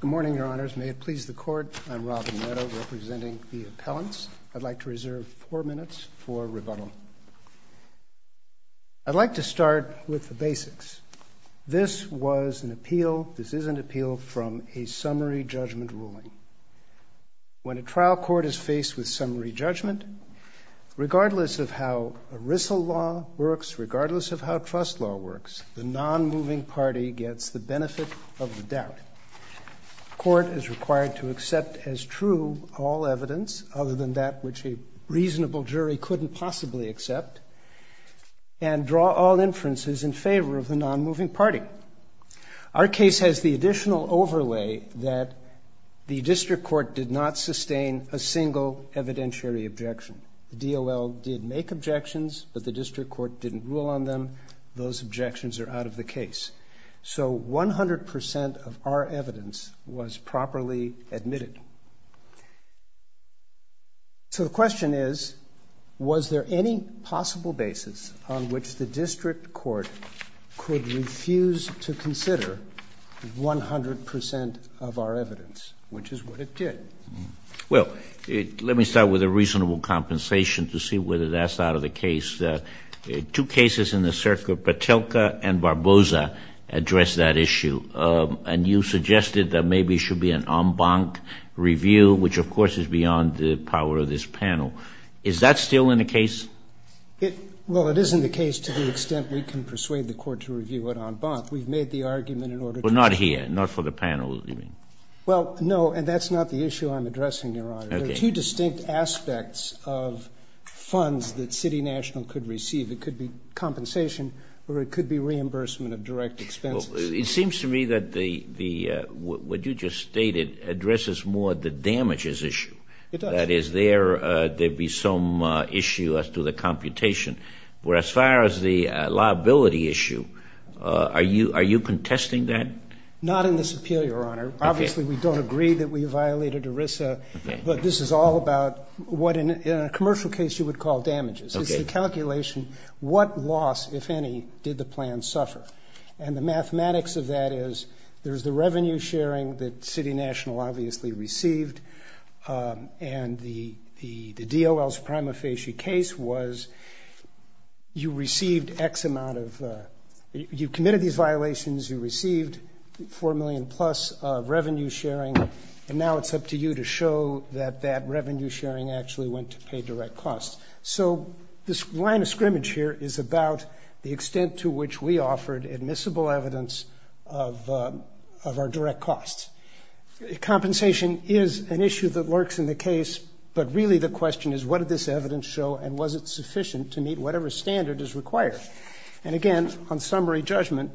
Good morning, Your Honors. May it please the Court, I'm Robin Redow, representing the appellants. I'd like to reserve four minutes for rebuttal. I'd like to start with the basics. This was an appeal, this is an appeal from a summary judgment ruling. When a trial court is faced with summary judgment, regardless of how ERISA law works, regardless of how trust law works, the non-moving party gets the benefit of the doubt. The court is required to accept as true all evidence, other than that which a reasonable jury couldn't possibly accept, and draw all inferences in favor of the non-moving party. Our case has the additional overlay that the district court did not sustain a single evidentiary objection. The DOL did make objections, but the district court didn't rule on them. Those objections are out of the case. So 100% of our evidence was properly admitted. So the question is, was there any possible basis on which the district court could refuse to consider 100% of our evidence, which is what it did. Well, let me start with a reasonable compensation to see whether that's out of the case. Two cases in the circuit, Patelka and Barboza, address that issue. And you suggested that maybe it should be an en banc review, which of course is beyond the power of this panel. Is that still in the case? Well, it is in the case to the extent we can persuade the court to review it en banc. We've made the argument in order to... Well, not here, not for the panel. Well, no, and that's not the issue I'm addressing, Your Honor. There are two distinct aspects of funds that City National could receive. It could be compensation, or it could be reimbursement of direct expenses. It seems to me that what you just stated addresses more the damages issue. It does. That is, there be some issue as to the computation. Whereas as far as the liability issue, are you contesting that? Not in this appeal, Your Honor. Obviously, we don't agree that we violated ERISA, but this is all about what in a commercial case you would call damages. It's the calculation, what loss, if any, did the plan suffer? And the mathematics of that is, there's the revenue sharing that City National obviously received, and the DOL's prima facie case was, you received X amount of... You committed these violations, you received four million plus of revenue sharing, and now it's up to you to show that that revenue sharing actually went to pay direct costs. So this line of scrimmage here is about the extent to which we offered admissible evidence of our direct costs. Compensation is an issue that lurks in the case, but really the question is, what did this evidence show, and was it sufficient to meet whatever standard is required? And again, on summary judgment,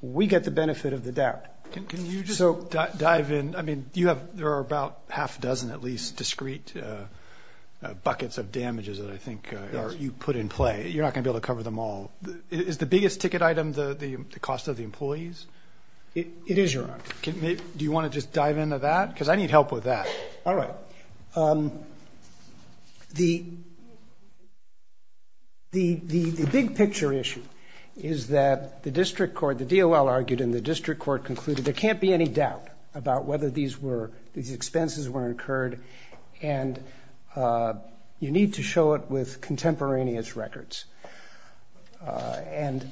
we get the benefit of the doubt. Can you just dive in? I mean, you have, there are about half a dozen, at least, discrete buckets of damages that I think you put in play. You're not going to cover them all. Is the biggest ticket item the cost of the employees? It is, Your Honor. Do you want to just dive into that? Because I need help with that. All right. The big picture issue is that the district court, the DOL argued, and the district court concluded, there can't be any doubt about whether these were, these expenses were incurred, and you need to show it with contemporaneous records. And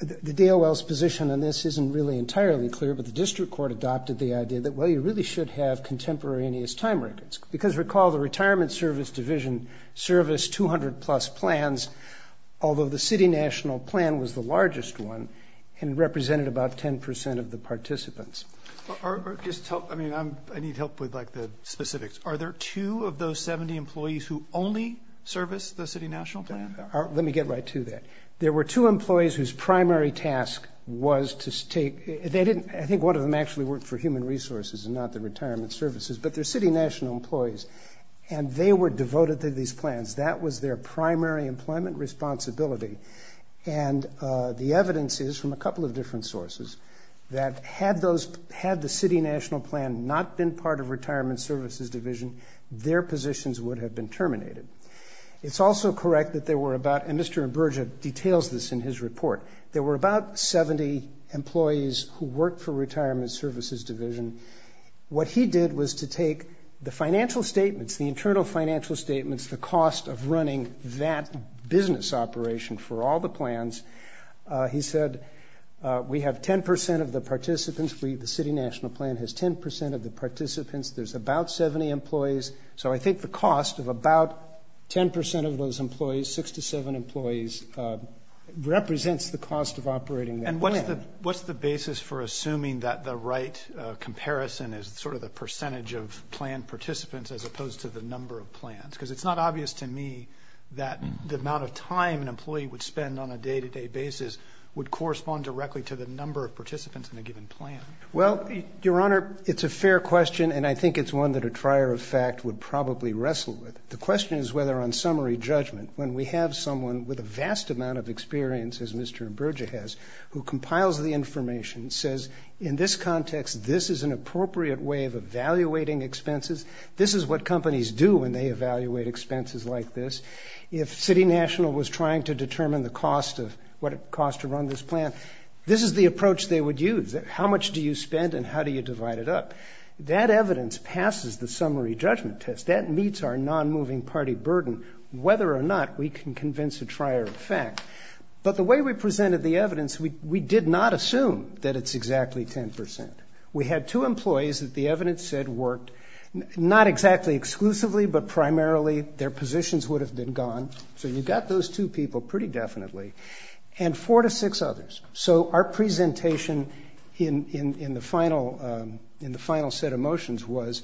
the DOL's position on this isn't really entirely clear, but the district court adopted the idea that, well, you really should have contemporaneous time records. Because recall, the Retirement Service Division serviced 200-plus plans, although the city national plan was the largest one and represented about 10% of the plan. I mean, I need help with, like, the specifics. Are there two of those 70 employees who only service the city national plan? Let me get right to that. There were two employees whose primary task was to take, they didn't, I think one of them actually worked for Human Resources and not the Retirement Services, but they're city national employees, and they were devoted to these plans. That was their primary employment responsibility. And the evidence is, from a couple of different sources, that had those, had the city national plan not been part of Retirement Services Division, their positions would have been terminated. It's also correct that there were about, and Mr. Imburgia details this in his report, there were about 70 employees who worked for Retirement Services Division. What he did was to take the financial statements, the internal financial statements, the cost of running that business operation for all the plans. He said, we have 10% of the participants, the city national plan has 10% of the participants, there's about 70 employees, so I think the cost of about 10% of those employees, six to seven employees, represents the cost of operating that plan. And what's the basis for assuming that the right comparison is sort of the percentage of plan participants as opposed to the number of plans? Because it's not obvious to me that the amount of time an employee would spend on a day-to-day basis would correspond directly to the number of participants in a given plan. Well, Your Honor, it's a fair question and I think it's one that a trier of fact would probably wrestle with. The question is whether on summary judgment, when we have someone with a vast amount of experience, as Mr. Imburgia has, who compiles the information, says, in this context, this is an appropriate way of evaluating expenses, this is what companies do when they evaluate expenses like this. If city national was trying to estimate the cost of what it costs to run this plan, this is the approach they would use. How much do you spend and how do you divide it up? That evidence passes the summary judgment test. That meets our non-moving party burden, whether or not we can convince a trier of fact. But the way we presented the evidence, we did not assume that it's exactly 10%. We had two employees that the evidence said worked not exactly exclusively, but primarily their positions would have been gone. So you got those two people pretty definitely and four to six others. So our presentation in the final set of motions was,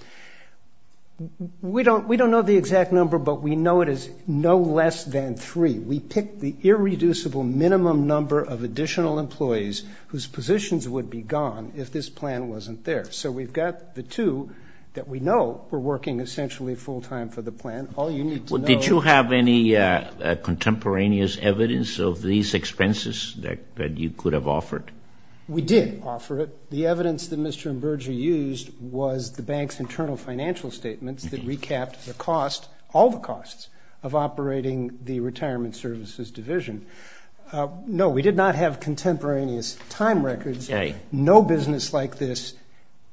we don't know the exact number, but we know it is no less than three. We picked the irreducible minimum number of additional employees whose positions would be gone if this plan wasn't there. So we've got the two that we know were working essentially full time for the plan. Did you have any contemporaneous evidence of these expenses that you could have offered? We did offer it. The evidence that Mr. Mberger used was the bank's internal financial statements that recapped the cost, all the costs, of operating the retirement services division. No, we did not have contemporaneous time records. No business like this.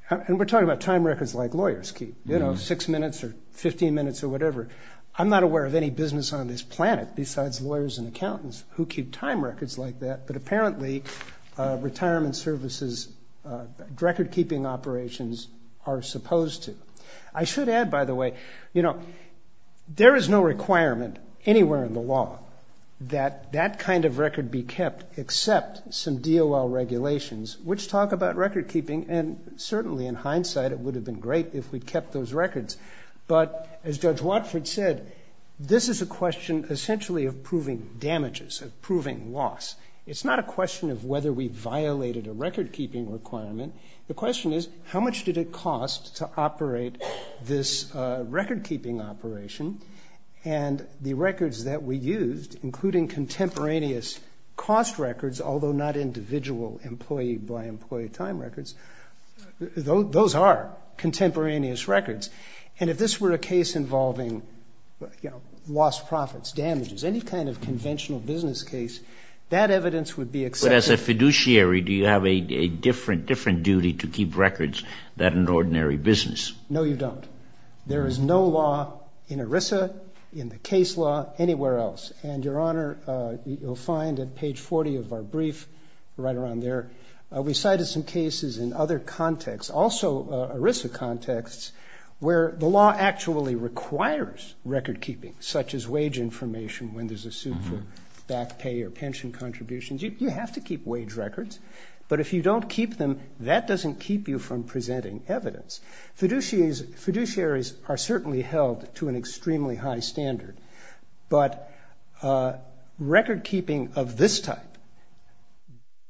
And we're talking about time records like lawyers keep, you know, six minutes or 15 minutes or whatever. I'm not aware of any business on this planet besides lawyers and accountants who keep time records like that, but apparently retirement services record-keeping operations are supposed to. I should add, by the way, you know, there is no requirement anywhere in the law that that kind of record be kept except some DOL regulations which talk about record-keeping and certainly in that it would have been great if we kept those records. But as Judge Watford said, this is a question essentially of proving damages, of proving loss. It's not a question of whether we violated a record-keeping requirement. The question is how much did it cost to operate this record-keeping operation and the records that we used, including contemporaneous cost records, although not individual employee-by-employee time records, those are contemporaneous records. And if this were a case involving, you know, lost profits, damages, any kind of conventional business case, that evidence would be accepted. But as a fiduciary, do you have a different duty to keep records than an ordinary business? No, you don't. There is no law in ERISA, in the case law, anywhere else. And, Your Honor, you'll find at page 40 of our brief, right around there, we cited some cases in other contexts, also ERISA contexts, where the law actually requires record-keeping, such as wage information when there's a suit for back pay or pension contributions. You have to keep wage records, but if you don't keep them, that doesn't keep you from presenting evidence. Fiduciaries are certainly held to an extremely high standard, but record-keeping of this type,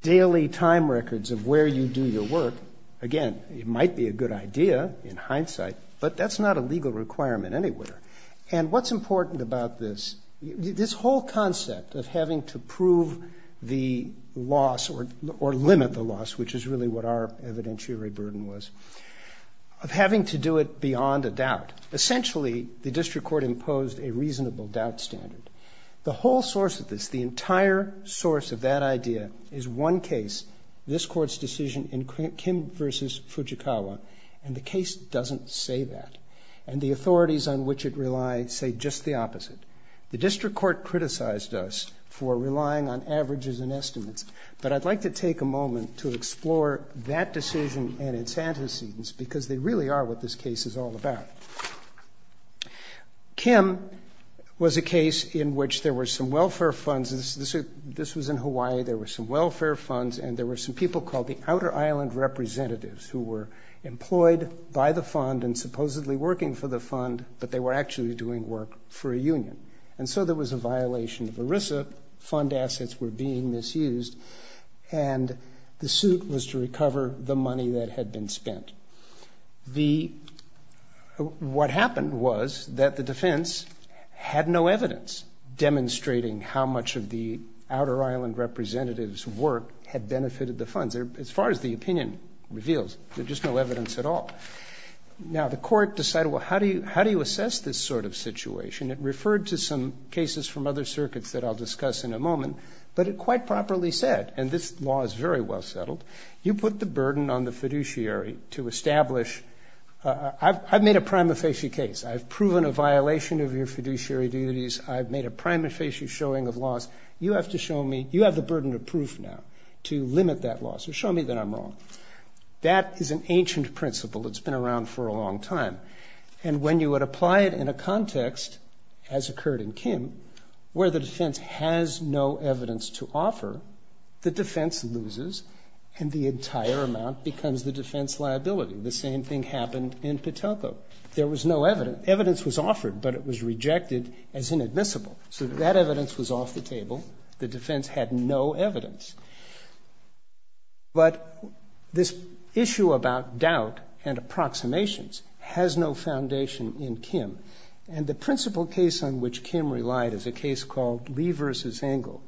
daily time records of where you do your work, again, it might be a good idea in hindsight, but that's not a legal requirement anywhere. And what's important about this, this whole concept of having to prove the loss or limit the loss, which is really what our evidentiary burden was, of having to do it beyond a reasonable doubt standard. The whole source of this, the entire source of that idea is one case, this Court's decision in Kim v. Fujikawa, and the case doesn't say that. And the authorities on which it relies say just the opposite. The district court criticized us for relying on averages and estimates, but I'd like to take a moment to explore that decision and its antecedents, because they really are what this case is all about. Kim was a case in which there were some welfare funds, this was in Hawaii, there were some welfare funds, and there were some people called the Outer Island Representatives, who were employed by the fund and supposedly working for the fund, but they were actually doing work for a union. And so there was a violation of ERISA, fund assets were being misused, and the suit was to recover the money that had been spent. What happened was that the defense had no evidence demonstrating how much of the Outer Island Representatives' work had benefited the funds. As far as the opinion reveals, there's just no evidence at all. Now, the court decided, well, how do you assess this sort of situation? It referred to some cases from other circuits that I'll very well settled. You put the burden on the fiduciary to establish, I've made a prima facie case, I've proven a violation of your fiduciary duties, I've made a prima facie showing of laws, you have to show me, you have the burden of proof now to limit that law, so show me that I'm wrong. That is an ancient principle that's been around for a long time, and when you would apply it in a context, as occurred in Kim, where the defense has no evidence to offer, the defense loses, and the entire amount becomes the defense liability. The same thing happened in Patelco. There was no evidence. Evidence was offered, but it was rejected as inadmissible. So that evidence was off the table. The defense had no evidence. But this issue about doubt and approximations has no foundation in Kim. And the principal case on which Kim relied is a case called Lee versus Engel.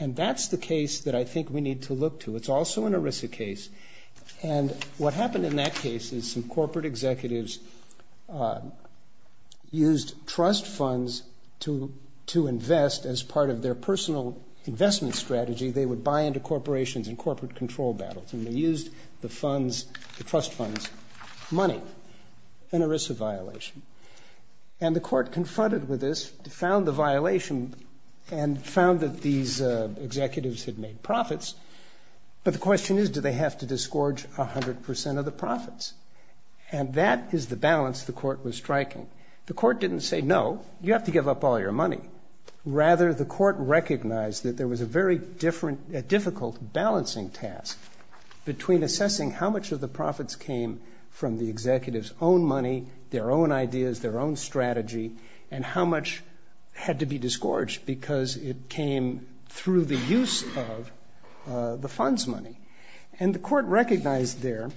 And that's the case that I think we need to look to. It's also an ERISA case. And what happened in that case is some corporate executives used trust funds to invest as part of their personal investment strategy. They would buy into corporations and corporate control battles, and they used the funds, the trust funds, money. An ERISA violation. And the court confronted with this, found the violation, and found that these executives had made profits. But the question is, do they have to disgorge a hundred percent of the profits? And that is the balance the court was striking. The court didn't say, no, you have to give up all your money. Rather, the court recognized that there was a very difficult balancing task between assessing how much of the profits came from the executives' own money, their own ideas, their own strategy, and how much had to be disgorged because it came through the use of the funds money. And the court recognized there,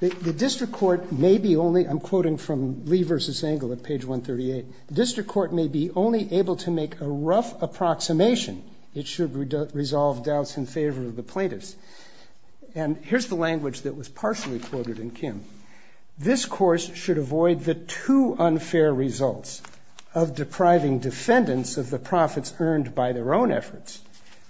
the district court may be only, I'm quoting from Lee versus Engel at page 138, the district court may be only able to make a rough approximation. It should resolve doubts in favor of the plaintiffs. And here's the language that was partially quoted in Kim. This course should avoid the two unfair results of depriving defendants of the profits earned by their own efforts,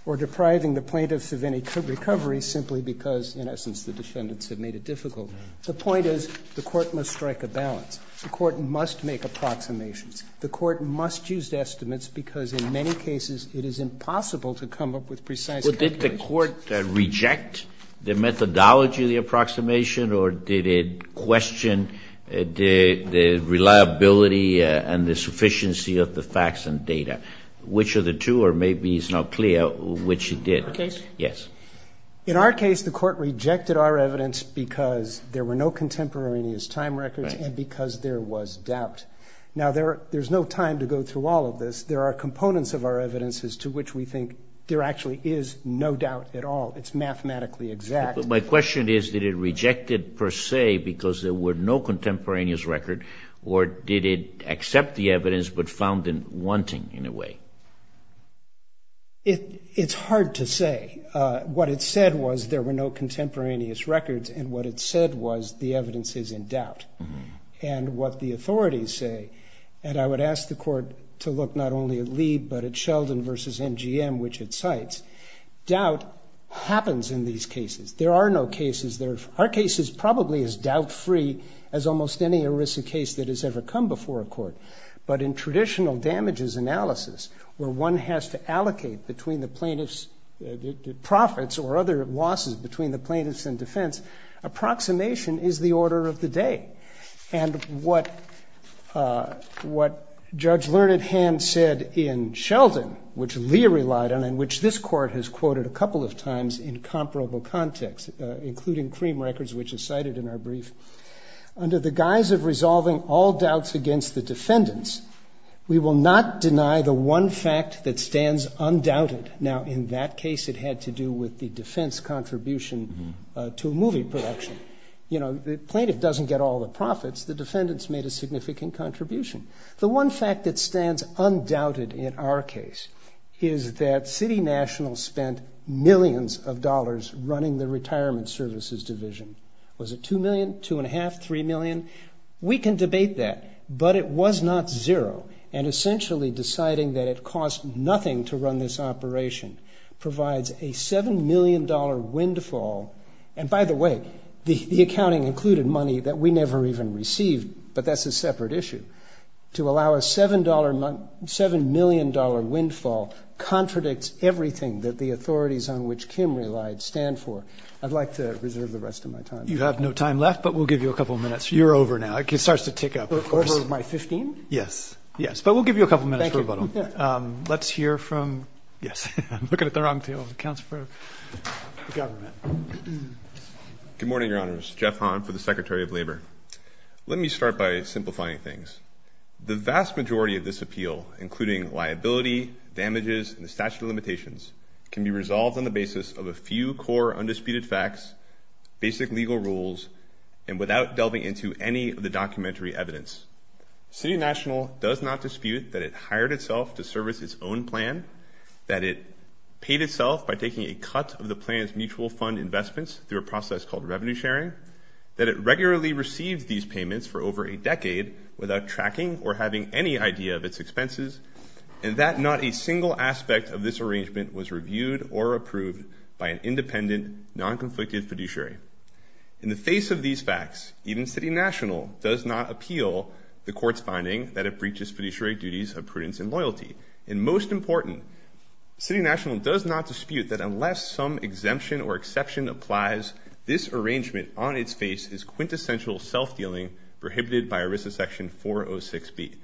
or depriving the plaintiffs of any recovery simply because, in essence, the defendants have made it difficult. The point is, the court must strike a balance. The court must make approximations. The court must use estimates because in many cases it is impossible to come up with precise estimates. Well, did the court reject the methodology of the approximation, or did it question the reliability and the sufficiency of the facts and data? Which of the two, or maybe it's not clear which it did. In our case? Yes. In our case, the court rejected our evidence because there were no contemporaneous time records and because there was doubt. Now, there's no time to go through all of this. There are components of our evidence as to which we think there actually is no doubt at all. It's mathematically exact. But my question is, did it reject it per se because there were no contemporaneous record, or did it accept the evidence but found it wanting in a way? It's hard to say. What it said was there were no contemporaneous records, and what it said was the evidence is in doubt. And what the authorities say, and I would ask the court to look not only at Lee, but at Sheldon versus MGM, which it cites. Doubt happens in these cases. There are no cases. Our case is probably as doubt-free as almost any ERISA case that has ever come before a court. But in traditional damages analysis, where one has to allocate between the plaintiff's profits or other losses between the plaintiffs and defense, approximation is the order of the day. And what Judge Learned Hand said in Sheldon, which Lee relied on and which this court has quoted a couple of times in comparable context, including CREAM records, which is cited in our brief, under the guise of resolving all doubts against the defendants, we will not deny the one fact that stands undoubted. Now, in that case, it had to do with the production. You know, the plaintiff doesn't get all the profits. The defendants made a significant contribution. The one fact that stands undoubted in our case is that City National spent millions of dollars running the Retirement Services Division. Was it two million, two and a half, three million? We can debate that, but it was not zero. And essentially deciding that it cost nothing to run this operation provides a $7 million windfall. And by the way, the accounting included money that we never even received, but that's a separate issue. To allow a $7 million windfall contradicts everything that the authorities on which Kim relied stand for. I'd like to reserve the rest of my time. You have no time left, but we'll give you a couple of minutes. You're over now. It starts to tick up, of course. Over my 15? Yes. Yes. But we'll give you a couple of minutes for rebuttal. Let's hear from... Yes. I'm looking at the wrong table. Counsel for the government. Good morning, Your Honors. Jeff Hahn for the Secretary of Labor. Let me start by simplifying things. The vast majority of this appeal, including liability, damages, and the statute of limitations, can be resolved on the basis of a few core undisputed facts, basic legal rules, and without delving into any of the documentary evidence. City National does not dispute that it hired itself to service its own plan, that it paid itself by taking a cut of the plan's mutual fund investments through a process called revenue sharing, that it regularly received these payments for over a decade without tracking or having any idea of its expenses, and that not a single aspect of this arrangement was reviewed or approved by an independent, non-conflicted fiduciary. In the face of these facts, even City National does not appeal the court's finding that it breaches fiduciary duties of prudence and loyalty. And most important, City National does not dispute that unless some exemption or exception applies, this arrangement on its face is quintessential self-dealing prohibited by ERISA Section 406B.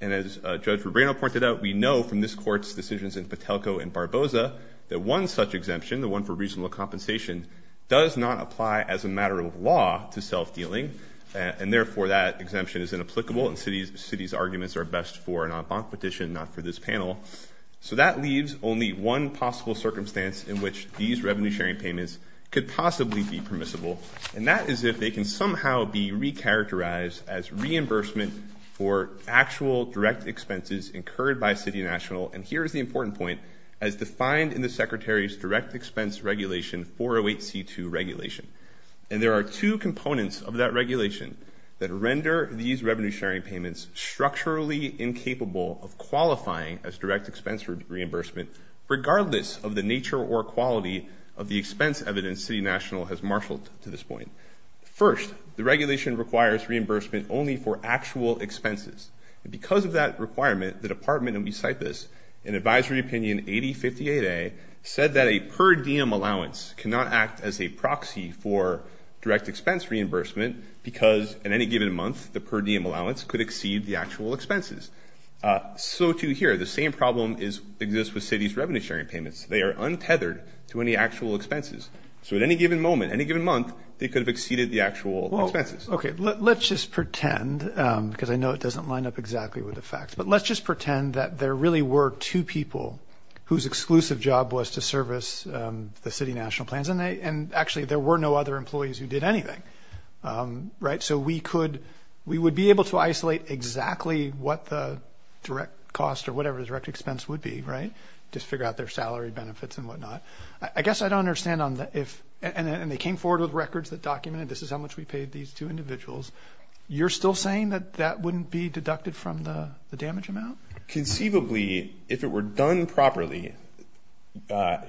And as Judge Rubino pointed out, we know from this court's decisions in Patelco and Barboza that one such exemption, the one for reasonable compensation, does not apply as a matter of law to self-dealing, and therefore that exemption is inapplicable, and the City's arguments are best for an en banc petition, not for this panel. So that leaves only one possible circumstance in which these revenue sharing payments could possibly be permissible, and that is if they can somehow be re-characterized as reimbursement for actual direct expenses incurred by City National. And here is the important point, as defined in the Secretary's Direct Expense Regulation 408C2 regulation. And there are two components of that regulation that render these revenue sharing payments structurally incapable of qualifying as direct expense reimbursement, regardless of the nature or quality of the expense evidence City National has marshaled to this point. First, the regulation requires reimbursement only for actual expenses. And because of that requirement, the Department, and we cite this in Advisory Opinion 8058A, said that a per diem allowance cannot act as a proxy for direct expense reimbursement because at any given month, the per diem allowance could exceed the actual expenses. So too here, the same problem exists with City's revenue sharing payments. They are untethered to any actual expenses. So at any given moment, any given month, they could have exceeded the actual expenses. Okay, let's just pretend, because I know it doesn't line up exactly with the facts, but let's just pretend that there really were two people whose exclusive job was to service the City National plans, and actually, there were no other employees who did anything, right? So we would be able to isolate exactly what the direct cost or whatever the direct expense would be, right? Just figure out their salary benefits and whatnot. I guess I don't understand, and they came forward with records that documented this is how much we paid these two individuals. You're still saying that that wouldn't be deducted from the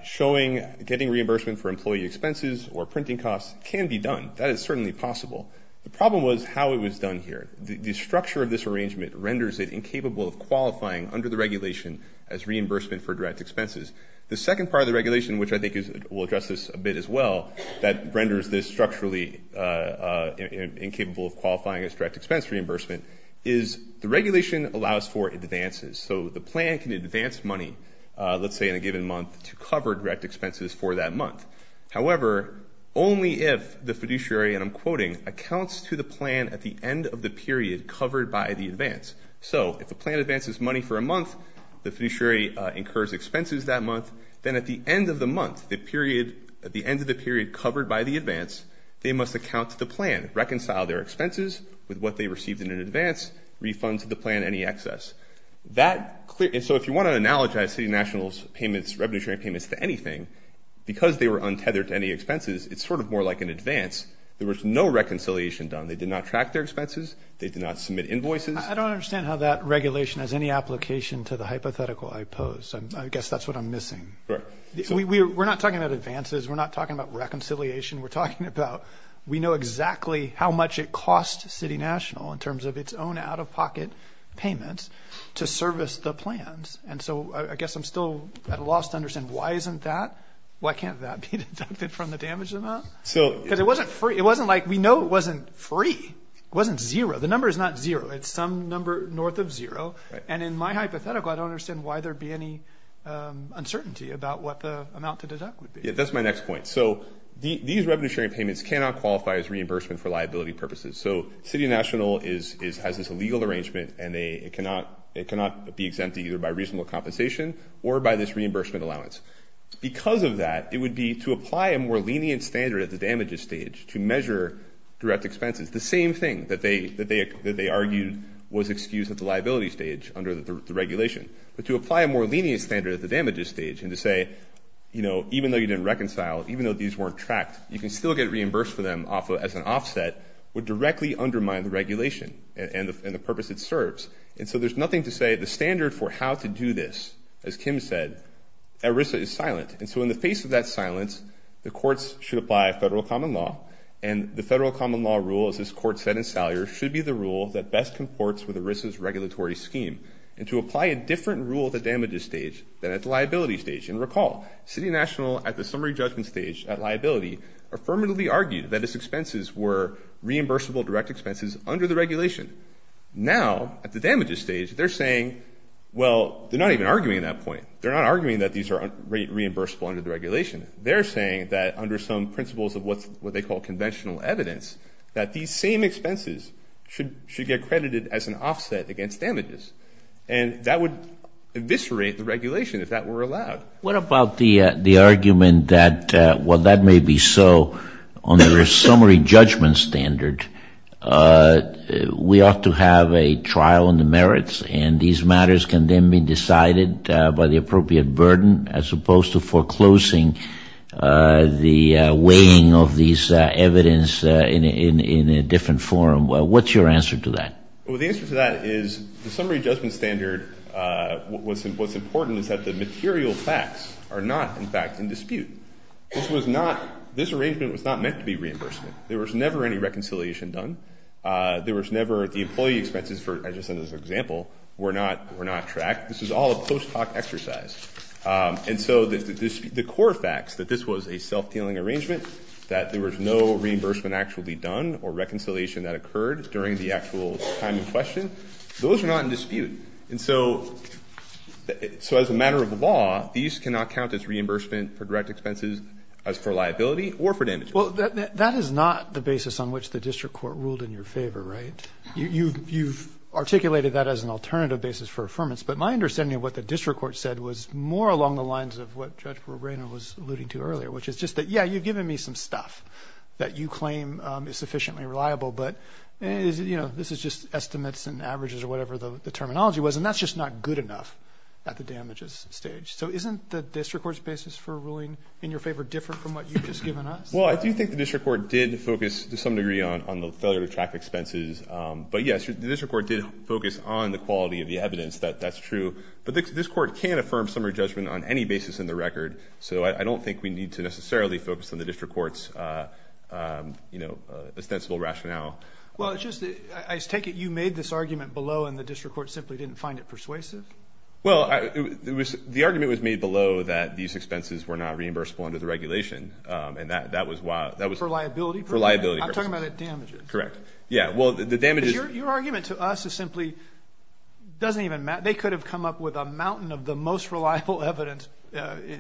showing, getting reimbursement for employee expenses or printing costs can be done. That is certainly possible. The problem was how it was done here. The structure of this arrangement renders it incapable of qualifying under the regulation as reimbursement for direct expenses. The second part of the regulation, which I think will address this a bit as well, that renders this structurally incapable of qualifying as direct expense reimbursement, is the regulation allows for advances. So the plan can advance money, let's say, in a month to cover direct expenses for that month. However, only if the fiduciary, and I'm quoting, accounts to the plan at the end of the period covered by the advance. So if the plan advances money for a month, the fiduciary incurs expenses that month, then at the end of the month, the period, at the end of the period covered by the advance, they must account to the plan, reconcile their expenses with what they received in an advance, refund to the plan any excess. That clear, and so if you want to analogize City Nationals payments, revenue sharing payments to anything, because they were untethered to any expenses, it's sort of more like an advance. There was no reconciliation done. They did not track their expenses. They did not submit invoices. I don't understand how that regulation has any application to the hypothetical I pose. I guess that's what I'm missing. We're not talking about advances. We're not talking about reconciliation. We're talking about we know exactly how much it costs City National in terms of its own out-of-pocket payments to service the plans, and so I guess I'm still at a loss to understand why isn't that, why can't that be deducted from the damage amount? Because it wasn't free. It wasn't like, we know it wasn't free. It wasn't zero. The number is not zero. It's some number north of zero, and in my hypothetical, I don't understand why there'd be any uncertainty about what the amount to deduct would be. Yeah, that's my next point. So these revenue sharing payments cannot qualify as reimbursement for liability purposes. So City National has this illegal arrangement, and it cannot be exempt either by reasonable compensation or by this reimbursement allowance. Because of that, it would be to apply a more lenient standard at the damages stage to measure direct expenses. The same thing that they argued was excused at the liability stage under the regulation, but to apply a more lenient standard at the damages stage and to say, you know, even though you didn't reconcile, even though these weren't tracked, you can still get reimbursed for them as an offset, would directly undermine the regulation and the purpose it serves. And so there's nothing to say the standard for how to do this, as Kim said, ERISA is silent. And so in the face of that silence, the courts should apply a federal common law, and the federal common law rule, as this court said in Salyer, should be the rule that best comports with ERISA's regulatory scheme, and to apply a different rule at the damages stage than at the liability, affirmatively argued that its expenses were reimbursable direct expenses under the regulation. Now, at the damages stage, they're saying, well, they're not even arguing that point. They're not arguing that these are reimbursable under the regulation. They're saying that under some principles of what they call conventional evidence, that these same expenses should get credited as an offset against damages. And that would eviscerate the regulation if that were allowed. What about the argument that, while that may be so, on the summary judgment standard, we ought to have a trial on the merits, and these matters can then be decided by the appropriate burden, as opposed to foreclosing the weighing of these evidence in a different forum. What's your answer to that? Well, the answer to that is the summary judgment standard, what's important is that the material facts are not, in fact, in dispute. This was not, this arrangement was not meant to be reimbursement. There was never any reconciliation done. There was never, the employee expenses, I just said as an example, were not tracked. This was all a post hoc exercise. And so the core facts, that this was a self-dealing arrangement, that there was no reimbursement actually done, or reconciliation that occurred during the manner of law, these cannot count as reimbursement for direct expenses as for liability or for damages. Well, that is not the basis on which the district court ruled in your favor, right? You've articulated that as an alternative basis for affirmance. But my understanding of what the district court said was more along the lines of what Judge Roberino was alluding to earlier, which is just that, yeah, you've given me some stuff that you claim is sufficiently reliable, but this is just estimates and averages or whatever the terminology was, and that's just not good enough at the damages stage. So isn't the district court's basis for ruling in your favor different from what you've just given us? Well, I do think the district court did focus to some degree on the failure to track expenses. But yes, the district court did focus on the quality of the evidence. That's true. But this court can't affirm summary judgment on any basis in the record. So I don't think we need to necessarily focus on the district court's, you know, ostensible rationale. Well, it's just, I take it you made this argument below and the district court simply didn't find it persuasive? Well, the argument was made below that these expenses were not reimbursable under the regulation, and that was why... For liability purposes? For liability purposes. I'm talking about at damages. Correct. Yeah, well, the damages... Because your argument to us is simply doesn't even matter. They could have come up with a mountain of the most reliable evidence,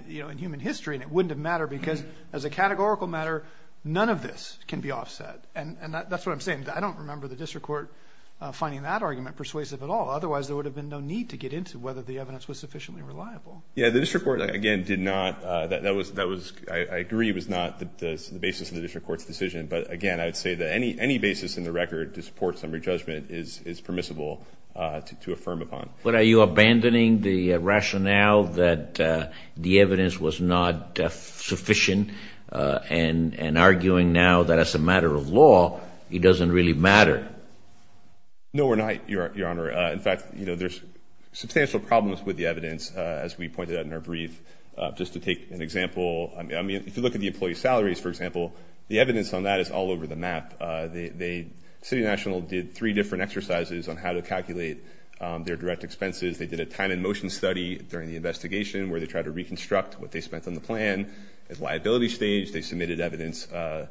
you know, in human history, and it wouldn't have mattered because as a categorical matter, none of this can be offset. And that's what I'm saying. I don't remember the get into whether the evidence was sufficiently reliable. Yeah, the district court, again, did not... That was, I agree, was not the basis of the district court's decision. But again, I would say that any basis in the record to support summary judgment is permissible to affirm upon. But are you abandoning the rationale that the evidence was not sufficient and arguing now that as a matter of law, it doesn't really matter? No, we're not, Your Honor. In fact, you know, there's substantial problems with the evidence, as we pointed out in our brief. Just to take an example, I mean, if you look at the employee salaries, for example, the evidence on that is all over the map. The city national did three different exercises on how to calculate their direct expenses. They did a time and motion study during the investigation where they tried to reconstruct what they spent on the plan. At liability stage, they submitted evidence by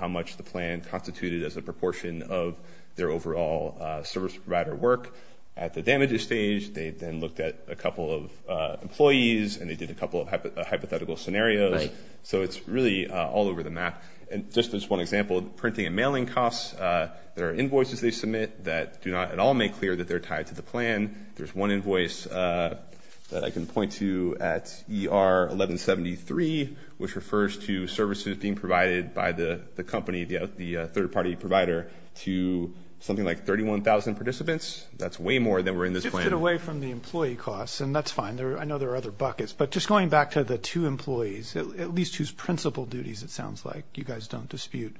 how much the plan constituted as a proportion of their overall service provider work. At the damages stage, they then looked at a couple of employees, and they did a couple of hypothetical scenarios. So it's really all over the map. And just as one example, printing and mailing costs, there are invoices they submit that do not at all make clear that they're tied to the plan. There's one invoice that I can point to at ER 1173, which refers to services being provided by the company, the third-party provider, to something like 31,000 participants. That's way more than we're in this plan. It's shifted away from the employee costs, and that's fine. I know there are other buckets. But just going back to the two employees, at least whose principal duties it sounds like you guys don't dispute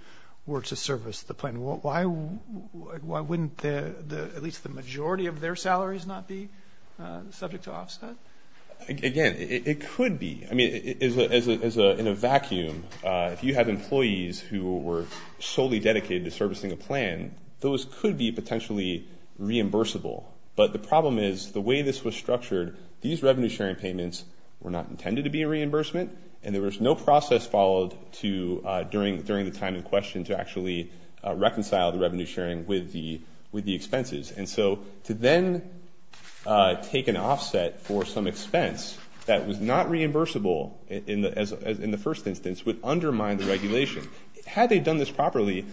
were to service the plan, why wouldn't at least the majority of their salaries not be subject to offset? Again, it could be. I mean, in a vacuum, if you have employees who were solely dedicated to servicing a plan, those could be potentially reimbursable. But the problem is the way this was structured, these revenue-sharing payments were not intended to be a reimbursement, and there was no process followed during the time in question to actually reconcile the revenue-sharing with the expenses. And so to then take an expense that was not reimbursable in the first instance would undermine the regulation. Had they done this properly,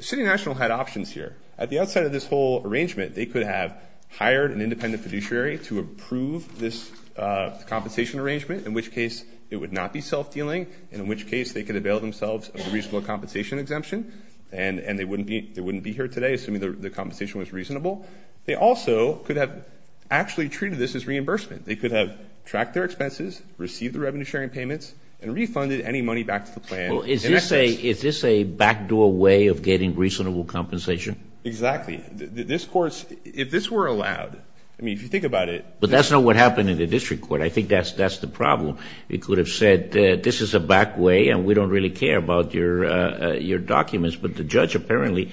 City National had options here. At the outside of this whole arrangement, they could have hired an independent fiduciary to approve this compensation arrangement, in which case it would not be self-dealing, and in which case they could avail themselves of a reasonable compensation exemption, and they wouldn't be here today, assuming the compensation was reasonable. They also could have actually treated this as reimbursement. They could have tracked their expenses, received the revenue-sharing payments, and refunded any money back to the plan in exchange. Well, is this a backdoor way of getting reasonable compensation? Exactly. This court's, if this were allowed, I mean, if you think about it. But that's not what happened in the district court. I think that's the problem. It could have said this is a back way, and we don't really care about your documents. But the judge apparently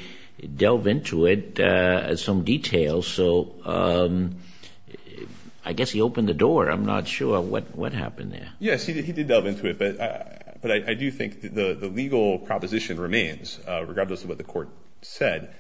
delved into it at some detail, so I guess he opened the door. I'm not sure what happened there. Yes, he did delve into it. But I do think the legal proposition remains, regardless of what the court said.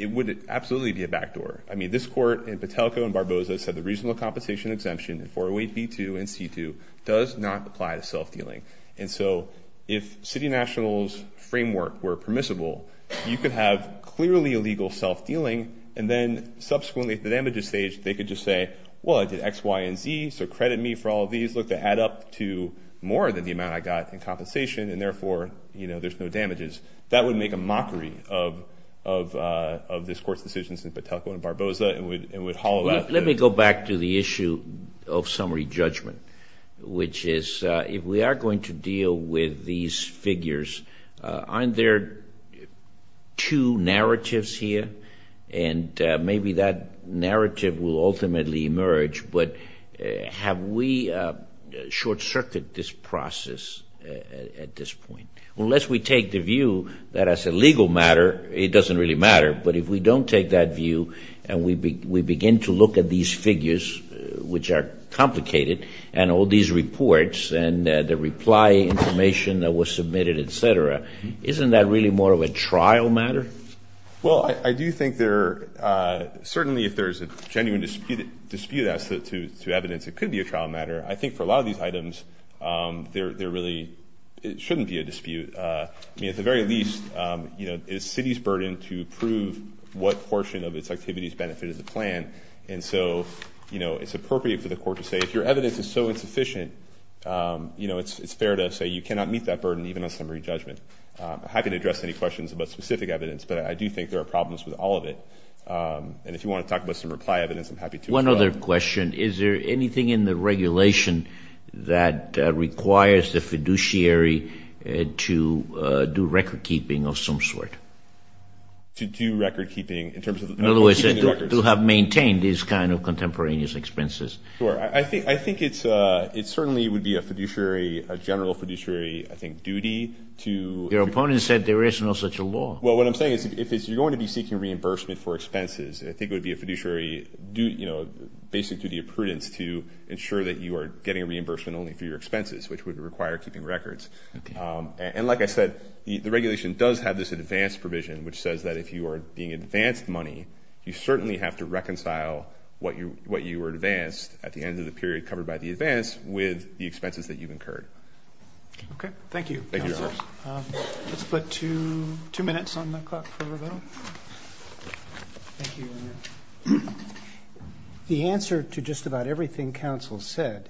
It would absolutely be a back door. I mean, this court in Patelco and Barbosa said the reasonable compensation exemption in 408b2 and c2 does not apply to self-dealing. And so if City National's framework were permissible, you could have clearly illegal self-dealing, and then subsequently at the damages stage, they could just say, well, I did x, y, and z, so credit me for all of these. Look, they add up to more than the amount I got in compensation, and therefore, you know, there's no damages. That would make a mockery of this court's decisions in Patelco and Barbosa and would hollow out the... Let me go back to the issue of summary judgment, which is if we are going to deal with these figures, aren't there two narratives here? And maybe that narrative will ultimately emerge. But have we short-circuited this process at this point? Unless we take the view that as a legal matter, it doesn't really matter. But if we don't take that view and we begin to look at these figures, which are complicated, and all these reports and the reply information that was submitted, et cetera, isn't that really more of a trial matter? Well, I do think there... Certainly if there's a genuine dispute as to evidence, it could be a trial matter. I think for a lot of these items, there really shouldn't be a dispute. I mean, at the very least, you know, it's the city's burden to prove what portion of its activities benefited the plan. And so, you know, it's appropriate for the court to say, if your case is fair to say you cannot meet that burden even on summary judgment. I'm happy to address any questions about specific evidence, but I do think there are problems with all of it. And if you want to talk about some reply evidence, I'm happy to. One other question. Is there anything in the regulation that requires the fiduciary to do recordkeeping of some sort? To do recordkeeping in terms of... In other words, to have maintained these kind of contemporaneous expenses. Sure. I think it certainly would be a fiduciary, a general fiduciary, I think, duty to... Your opponent said there is no such a law. Well, what I'm saying is, if you're going to be seeking reimbursement for expenses, I think it would be a fiduciary, you know, basic duty of prudence to ensure that you are getting a reimbursement only for your expenses, which would require keeping records. And like I said, the regulation does have this advanced provision, which says that if you are being advanced money, you certainly have to reconcile what you were advanced at the end of the period covered by the advance with the expenses that you've incurred. Okay. Thank you, counsel. Thank you, Your Honor. Let's put two minutes on the clock for rebuttal. Thank you, Your Honor. The answer to just about everything counsel said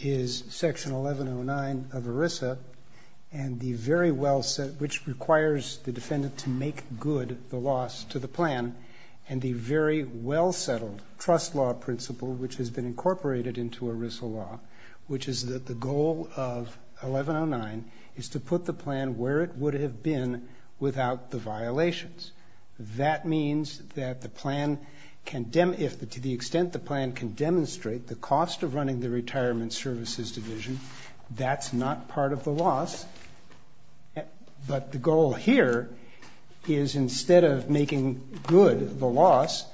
is Section 1109 of ERISA, and the very well set... which requires the defendant to make good the loss to the plan, and the very well settled trust law principle, which has been incorporated into ERISA law, which is that the goal of 1109 is to put the plan where it would have been without the violations. That means that the plan can... to the extent the plan can demonstrate the cost of running the retirement services division, that's not part of the loss. But the goal here is instead of making good the loss,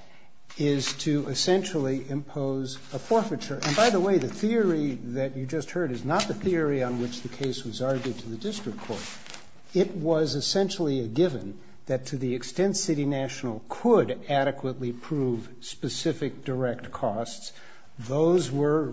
is to essentially impose a forfeiture. And by the way, the theory that you just heard is not the theory on which the case was argued to the district court. It was essentially a given that to the extent City National could adequately prove specific direct costs, those were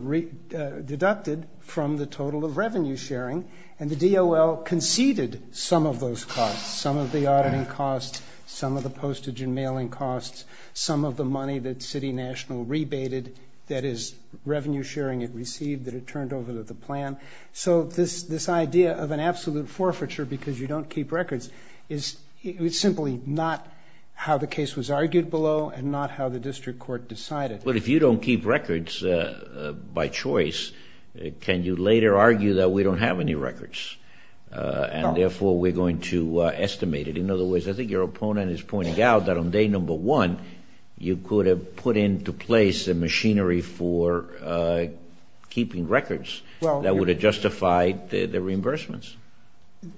deducted from the total of revenue sharing, and the DOL conceded some of those costs, some of the auditing costs, some of the postage and mailing costs, some of the money that City National rebated, that is, revenue sharing it received that it turned over to the plan. So this idea of an absolute forfeiture because you don't keep records is simply not how the case was argued below and not how the district court decided. But if you don't keep records by choice, can you later argue that we don't have any records? And therefore, we're going to estimate it. In other words, I think your opponent is pointing out that on day number one, you could have put into place a machinery for keeping records that would have justified the reimbursements.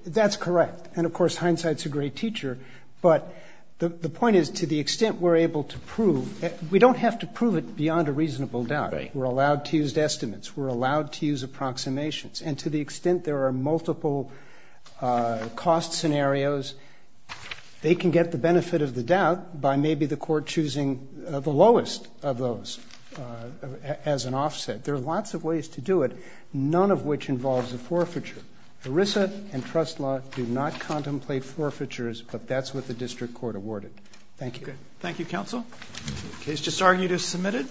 That's correct. And, of course, hindsight's a great teacher. But the point is, to the extent we're able to prove, we don't have to prove it beyond a reasonable doubt. Right. We're allowed to use estimates. We're allowed to use approximations. And to the extent there are multiple cost scenarios, they can get the benefit of the doubt by maybe the court choosing the lowest of those as an offset. There are lots of ways to do it, none of which involves a forfeiture. ERISA and trust law do not contemplate forfeitures, but that's what the district court awarded. Thank you. Thank you, counsel. The case just argued is submitted.